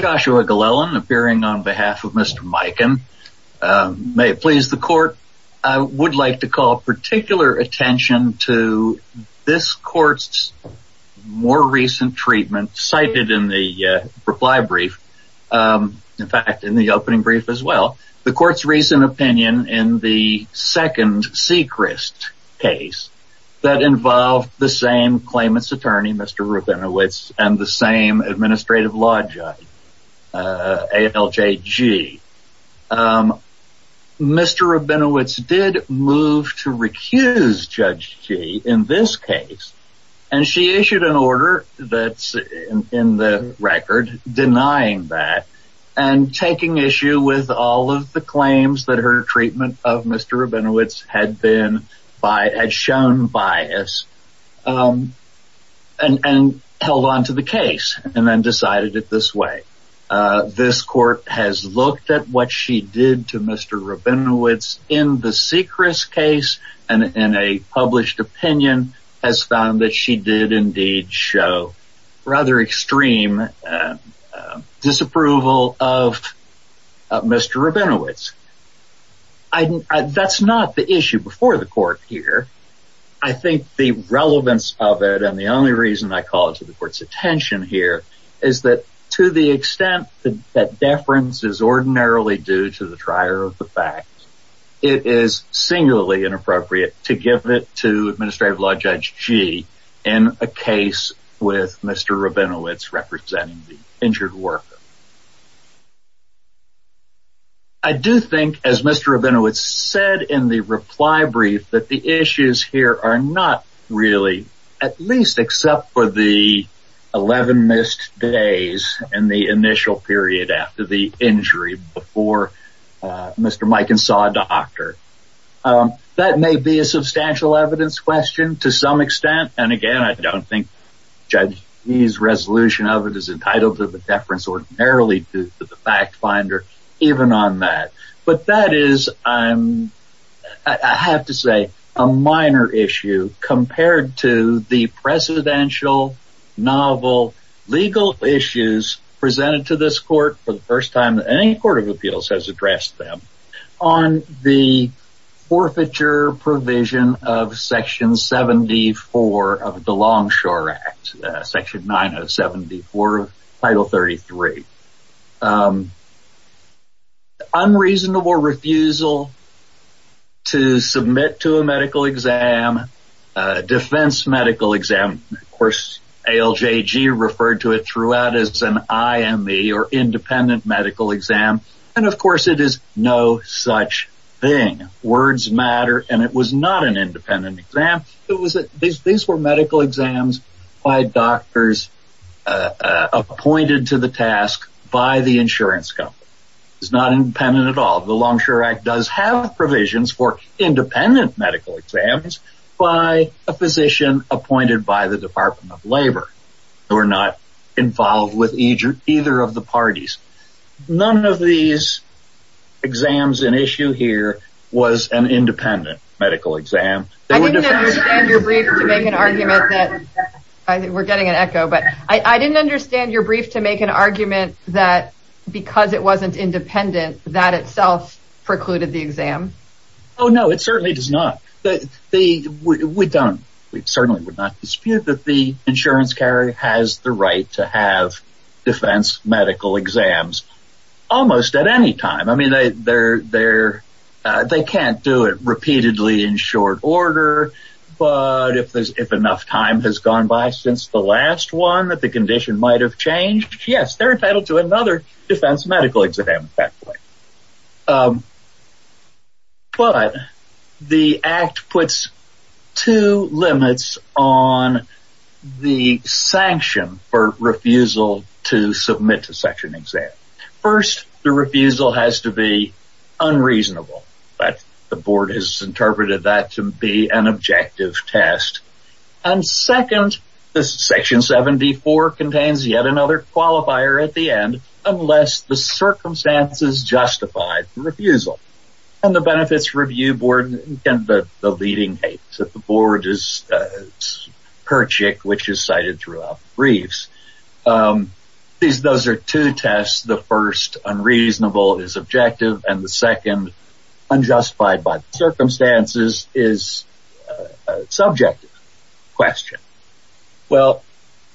Joshua Glellen appearing on behalf of Mr. Miken. May it please the court, I would like to call particular attention to this court's more recent treatment cited in the reply brief, in fact in the opening brief as well. The court's recent opinion in the second Sechrist case that involved the same claimant's attorney, Mr. Rabinowitz, and the same administrative law judge, ALJG. Mr. Rabinowitz did move to recuse Judge Gee in this case and she issued an order that's in the record denying that and taking issue with all of the claims that her treatment of Mr. Rabinowitz had shown bias and held onto the case and then decided it this way. This court has looked at what she did to Mr. Rabinowitz in the Sechrist case and in a published opinion has found that she did indeed show rather extreme disapproval of Mr. Rabinowitz. That's not the issue before the court here. I think the relevance of it and the only reason I call it to the court's attention here is that to the extent that deference is ordinarily due to the trier of the fact, it is singularly inappropriate to give it to Administrative Law Judge Gee in a case with Mr. Rabinowitz representing the injured worker. I do think, as Mr. Rabinowitz said in the reply brief, that the issues here are not really, at least except for the 11 missed days and the initial period after the injury before Mr. Mikan saw a doctor. That may be a substantial evidence question to some extent and again I don't think Judge Gee's resolution of it is entitled to the deference ordinarily due to the fact finder even on that. But that is, I have to say, a minor issue compared to the presidential novel legal issues presented to this court for the first time that any court of appeals has addressed them on the forfeiture provision of Section 74 of the Longshore Act, Section 9074 of Title 33. Reasonable refusal to submit to a medical exam, defense medical exam, of course ALJG referred to it throughout as an IME or independent medical exam and of course it is no such thing. Words matter and it was not an independent exam. These were medical exams by doctors appointed to the task by the insurance company. It's not independent at all. The Longshore Act does have provisions for independent medical exams by a physician appointed by the Department of Labor. They were not involved with either of the parties. None of these exams in issue here was an independent medical exam. I didn't understand your brief to make an argument that because it wasn't independent that itself precluded the exam. Oh, no, it certainly does not. We certainly would not dispute that the insurance carrier has the right to have defense medical exams almost at any time. I mean, they can't do it repeatedly in short order. But if enough time has gone by since the last one that the condition might have changed, yes, they're entitled to another defense medical exam. But the act puts two limits on the sanction for refusal to submit to such an exam. First, the refusal has to be unreasonable. But the board has interpreted that to be an objective test. And second, this section 74 contains yet another qualifier at the end unless the circumstances justified refusal and the benefits review board. And the leading hate that the board is perjured, which is cited throughout briefs. These those are two tests. The first unreasonable is objective. And the second unjustified by circumstances is subjective question. Well,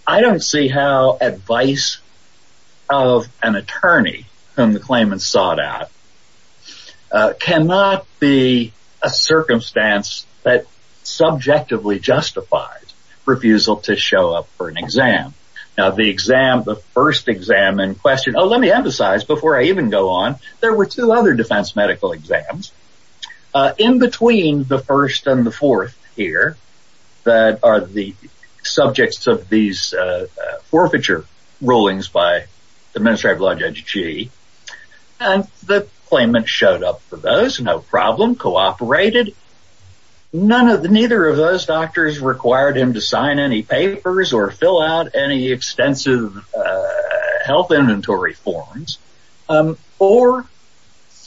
I don't see how advice of an attorney whom the claimants sought out cannot be a circumstance that subjectively justified refusal to show up for an exam. Now, the exam, the first exam and question. Oh, let me emphasize before I even go on. There were two other defense medical exams in between the first and the fourth here. That are the subjects of these forfeiture rulings by the Ministry of Law Judge G. And the claimant showed up for those. No problem. Cooperated. None of the neither of those doctors required him to sign any papers or fill out any extensive health inventory forms or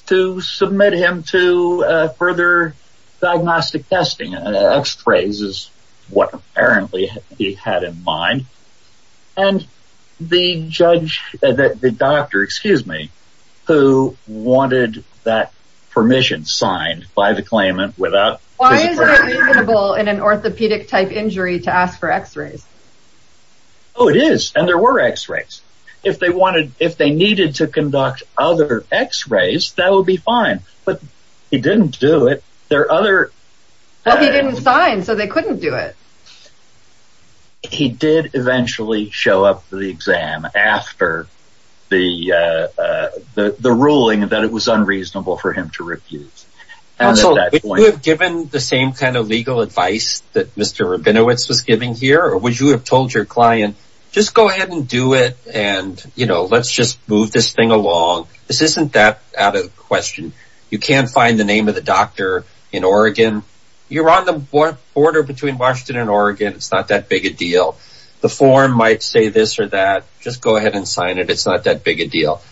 to submit him to further diagnostic testing. X-rays is what apparently he had in mind. And the judge that the doctor, excuse me, who wanted that permission signed by the claimant without an orthopedic type injury to ask for x-rays. Oh, it is. And there were x-rays. If they wanted, if they needed to conduct other x-rays, that would be fine. But he didn't do it. There are other. He didn't sign so they couldn't do it. He did eventually show up for the exam after the ruling that it was unreasonable for him to refuse. Also, would you have given the same kind of legal advice that Mr. Rabinowitz was giving here? Or would you have told your client, just go ahead and do it. And, you know, let's just move this thing along. This isn't that out of question. You can't find the name of the doctor in Oregon. You're on the border between Washington and Oregon. It's not that big a deal. The form might say this or that. Just go ahead and sign it. It's not that big a deal.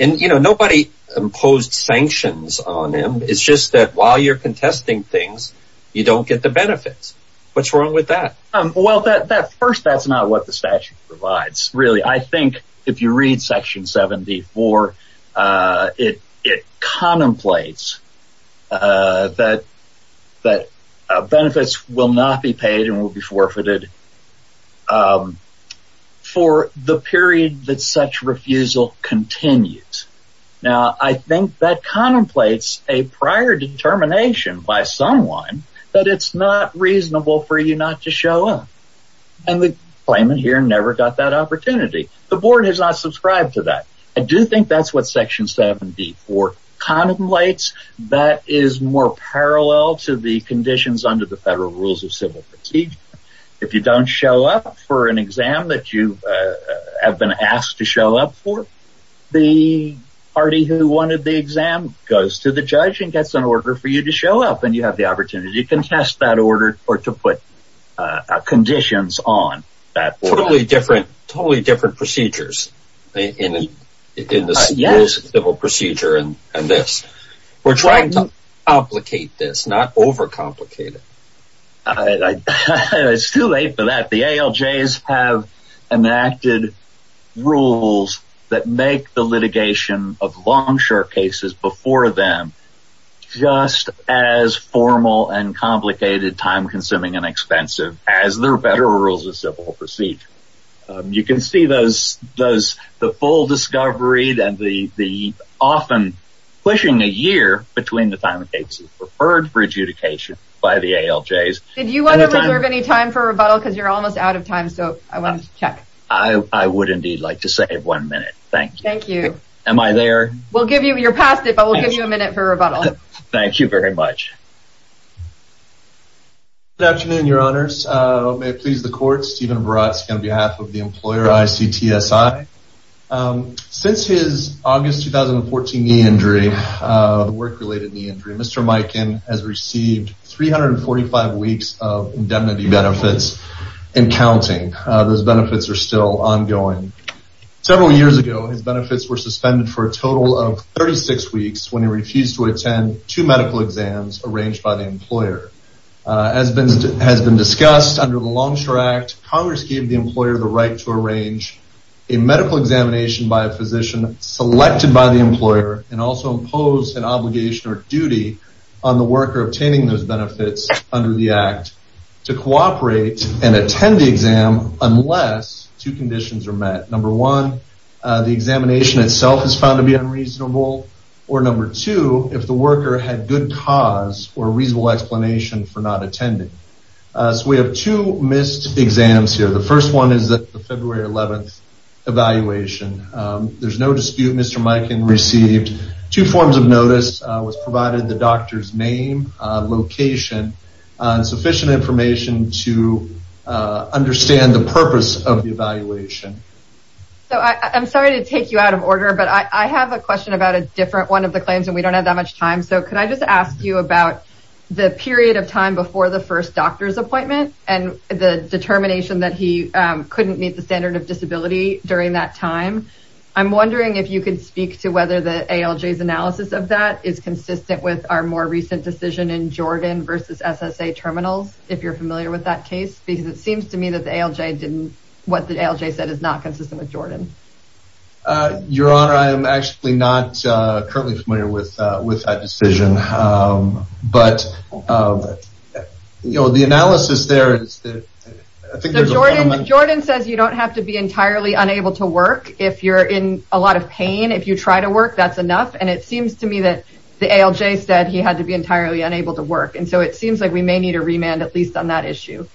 And, you know, nobody imposed sanctions on him. It's just that while you're contesting things, you don't get the benefits. What's wrong with that? Well, first, that's not what the statute provides, really. I think if you read Section 74, it contemplates that benefits will not be paid and will be forfeited for the period that such refusal continues. Now, I think that contemplates a prior determination by someone that it's not reasonable for you not to show up. And the claimant here never got that opportunity. The board has not subscribed to that. I do think that's what Section 74 contemplates. That is more parallel to the conditions under the Federal Rules of Civil Procedure. If you don't show up for an exam that you have been asked to show up for, the party who wanted the exam goes to the judge and gets an order for you to show up. And you have the opportunity to contest that order or to put conditions on that order. Totally different procedures in the Federal Rules of Civil Procedure and this. We're trying to complicate this, not overcomplicate it. It's too late for that. The ALJs have enacted rules that make the litigation of long-short cases before them just as formal and complicated, time-consuming and expensive as the Federal Rules of Civil Procedure. You can see the full discovery and the often pushing a year between the time a case is referred for adjudication by the ALJs. Did you want to reserve any time for rebuttal? Because you're almost out of time, so I wanted to check. I would indeed like to save one minute. Thank you. Thank you. Am I there? You're past it, but we'll give you a minute for rebuttal. Thank you very much. Good afternoon, Your Honors. May it please the Court, Stephen Baratski on behalf of the employer ICTSI. Since his August 2014 knee injury, work-related knee injury, Mr. Mikan has received 345 weeks of indemnity benefits and counting. Those benefits are still ongoing. Several years ago, his benefits were suspended for a total of 36 weeks when he refused to attend two medical exams arranged by the employer. As has been discussed, under the Longshore Act, Congress gave the employer the right to arrange a medical examination by a physician selected by the employer and also imposed an obligation or duty on the worker obtaining those benefits under the Act to cooperate and attend the exam unless two conditions are met. Number one, the examination itself is found to be unreasonable, or number two, if the worker had good cause or reasonable explanation for not attending. So we have two missed exams here. The first one is the February 11th evaluation. There's no dispute, Mr. Mikan received two forms of notice, was provided the doctor's name, location, and sufficient information to understand the purpose of the evaluation. So I'm sorry to take you out of order, but I have a question about a different one of the claims and we don't have that much time. So could I just ask you about the period of time before the first doctor's appointment and the determination that he couldn't meet the standard of disability during that time? I'm wondering if you could speak to whether the ALJ's analysis of that is consistent with our more recent decision in Jordan versus SSA terminals, if you're familiar with that case? Because it seems to me that the ALJ didn't, what the ALJ said is not consistent with Jordan. Your Honor, I am actually not currently familiar with that decision. But, you know, the analysis there is that I think there's a fundamental... Jordan says you don't have to be entirely unable to work if you're in a lot of pain. If you try to work, that's enough. And it seems to me that the ALJ said he had to be entirely unable to work. And so it seems like we may need a remand, at least on that issue.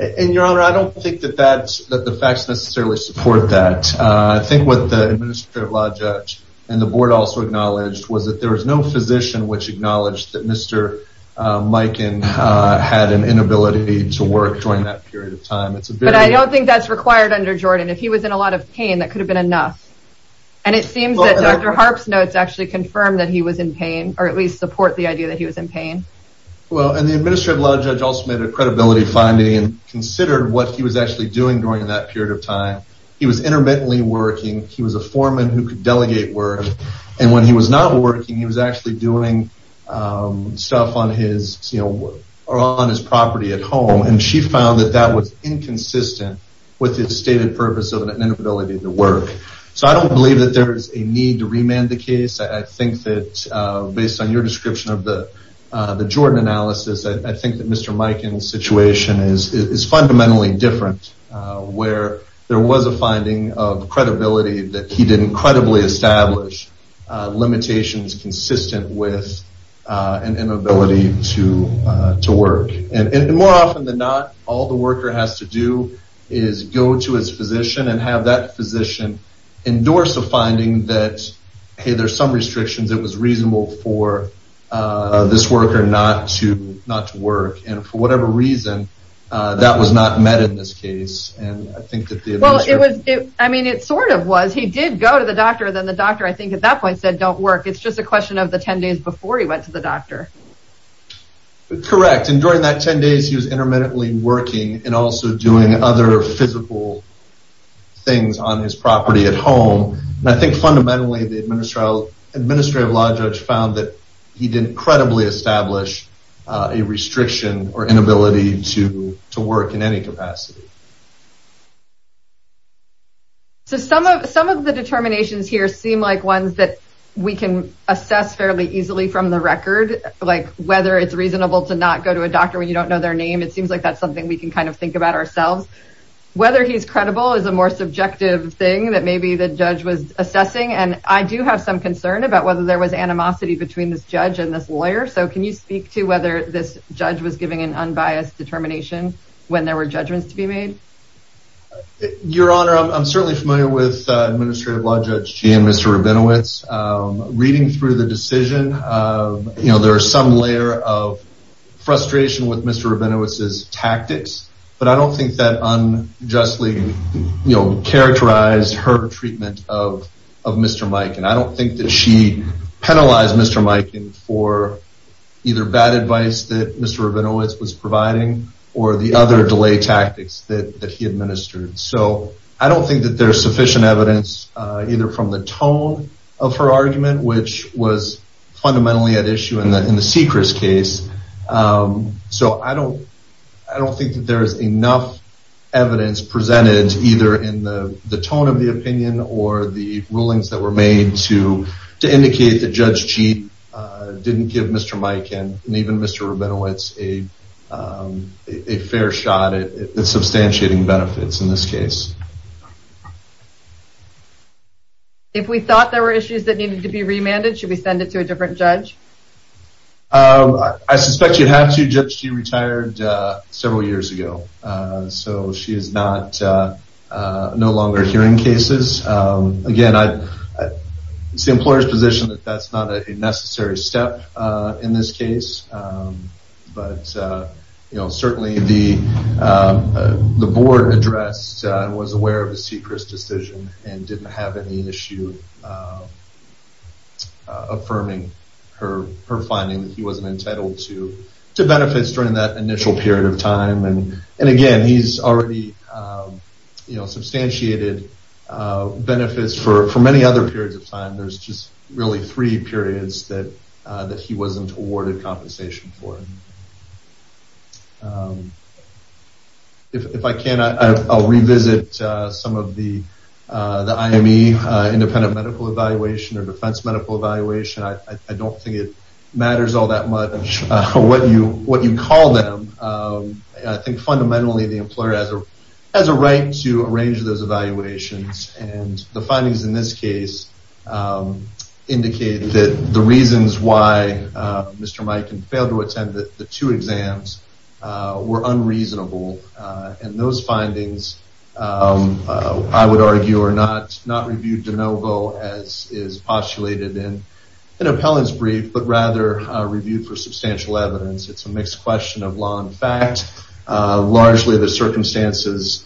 And, Your Honor, I don't think that the facts necessarily support that. I think what the administrative judge and the board also acknowledged was that there was no physician which acknowledged that Mr. Mikan had an inability to work during that period of time. But I don't think that's required under Jordan. If he was in a lot of pain, that could have been enough. And it seems that Dr. Harp's notes actually confirm that he was in pain, or at least support the idea that he was in pain. Well, and the administrative judge also made a credibility finding and considered what he was actually doing during that period of time. He was intermittently working. He was a foreman who could delegate work. And when he was not working, he was actually doing stuff on his property at home. And she found that that was inconsistent with his stated purpose of an inability to work. So I don't believe that there is a need to remand the case. I think that based on your description of the Jordan analysis, I think that Mr. Mikan's situation is fundamentally different, where there was a finding of credibility that he didn't credibly establish limitations consistent with an inability to work. And more often than not, all the worker has to do is go to his physician and have that physician endorse the finding that, hey, there's some restrictions. It was reasonable for this worker not to not to work. And for whatever reason, that was not met in this case. And I think that the well, it was I mean, it sort of was he did go to the doctor. Then the doctor, I think at that point said, don't work. It's just a question of the 10 days before he went to the doctor. Correct. And during that 10 days, he was intermittently working and also doing other physical things on his property at home. And I think fundamentally, the administrative law judge found that he didn't credibly establish a restriction or inability to to work in any capacity. So some of some of the determinations here seem like ones that we can assess fairly easily from the record, like whether it's reasonable to not go to a doctor when you don't know their name. It seems like that's something we can kind of think about ourselves. Whether he's credible is a more subjective thing that maybe the judge was assessing. And I do have some concern about whether there was animosity between this judge and this lawyer. So can you speak to whether this judge was giving an unbiased determination when there were judgments to be made? Your Honor, I'm certainly familiar with administrative law judge and Mr. Rabinowitz reading through the decision. You know, there are some layer of frustration with Mr. Rabinowitz's tactics, but I don't think that unjustly characterized her treatment of of Mr. Mike. And I don't think that she penalized Mr. Mike for either bad advice that Mr. Rabinowitz was providing or the other delay tactics that he administered. So I don't think that there's sufficient evidence, either from the tone of her argument, which was fundamentally at issue in the Seacrest case. So I don't think that there is enough evidence presented, either in the tone of the opinion or the rulings that were made, to indicate that Judge Cheat didn't give Mr. Mike and even Mr. Rabinowitz a fair shot at substantiating benefits in this case. If we thought there were issues that needed to be remanded, should we send it to a different judge? I suspect you have to, Judge Cheat retired several years ago. So she is no longer hearing cases. Again, it's the employer's position that that's not a necessary step in this case. But certainly the board addressed and was aware of the Seacrest decision and didn't have any issue affirming her finding that he wasn't entitled to benefits during that initial period of time. And again, he's already substantiated benefits for many other periods of time. There's just really three periods that he wasn't awarded compensation for. If I can, I'll revisit some of the IME, Independent Medical Evaluation, or Defense Medical Evaluation. I don't think it matters all that much what you call them. I think fundamentally the employer has a right to arrange those evaluations. And the findings in this case indicate that the reasons why Mr. Mike failed to attend the two exams were unreasonable. And those findings, I would argue, are not reviewed de novo as is postulated in an appellant's brief, but rather reviewed for substantial evidence. It's a mixed question of law and fact. Largely the circumstances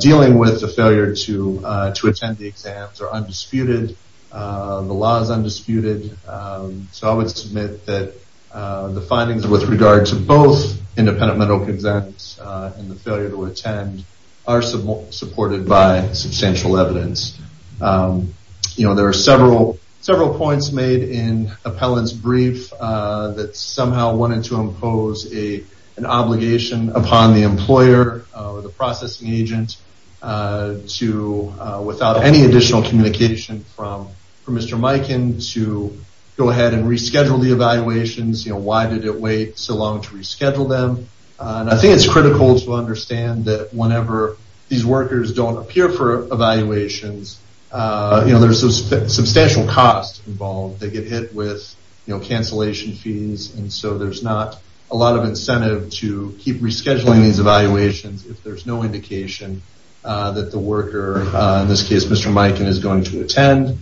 dealing with the failure to attend the exams are undisputed. The law is undisputed. So I would submit that the findings with regard to both independent medical exams and the failure to attend are supported by substantial evidence. There are several points made in appellant's brief that somehow wanted to impose an obligation upon the employer or the processing agent without any additional communication from Mr. Mikan to go ahead and reschedule the evaluations. Why did it wait so long to reschedule them? I think it's critical to understand that whenever these workers don't appear for evaluations, there's substantial cost involved. They get hit with cancellation fees, and so there's not a lot of incentive to keep rescheduling these evaluations if there's no indication that the worker, in this case Mr. Mikan, is going to attend.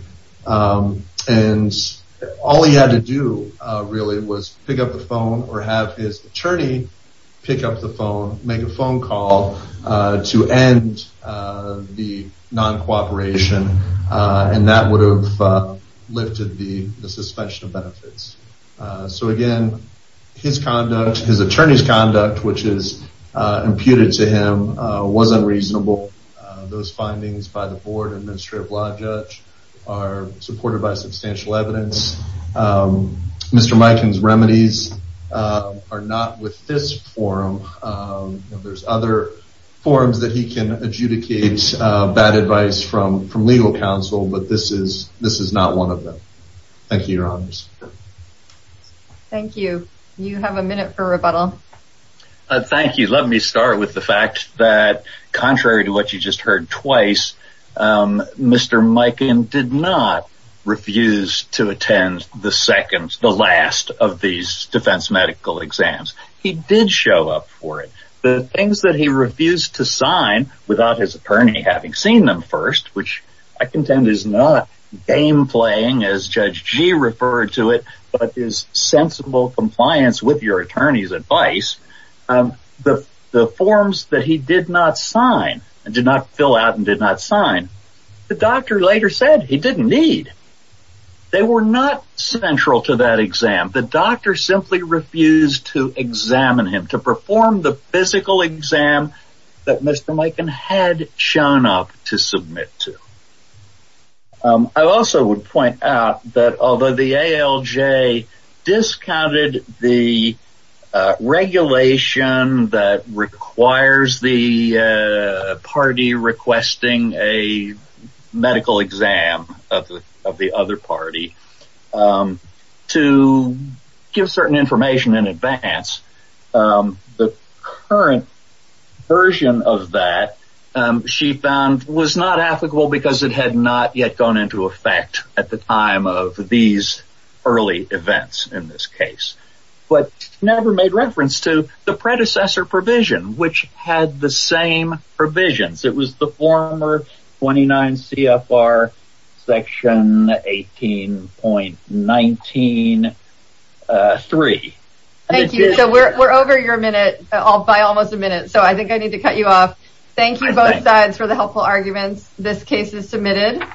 All he had to do really was pick up the phone or have his attorney pick up the phone, make a phone call to end the non-cooperation, and that would have lifted the suspension of benefits. So again, his conduct, his attorney's conduct, which is imputed to him, was unreasonable. Those findings by the Board and Administrative Law Judge are supported by substantial evidence. Mr. Mikan's remedies are not with this forum. There's other forums that he can adjudicate bad advice from legal counsel, but this is not one of them. Thank you, Your Honors. Thank you. Let me start with the fact that, contrary to what you just heard twice, Mr. Mikan did not refuse to attend the last of these defense medical exams. He did show up for it. The things that he refused to sign without his attorney having seen them first, which I contend is not game-playing as Judge Gee referred to it, but is sensible compliance with your attorney's advice, the forms that he did not sign, did not fill out and did not sign, the doctor later said he didn't need. They were not central to that exam. The doctor simply refused to examine him, to perform the physical exam that Mr. Mikan had shown up to submit to. I also would point out that although the ALJ discounted the regulation that requires the party requesting a medical exam of the other party, to give certain information in advance, the current version of that, she found, was not applicable because it had not yet gone into effect at the time of these early events in this case, but never made reference to the predecessor provision, which had the same provisions. It was the former 29 CFR section 18.19.3. Thank you. So we're over your minute by almost a minute, so I think I need to cut you off. Thank you both sides for the helpful arguments. This case is submitted.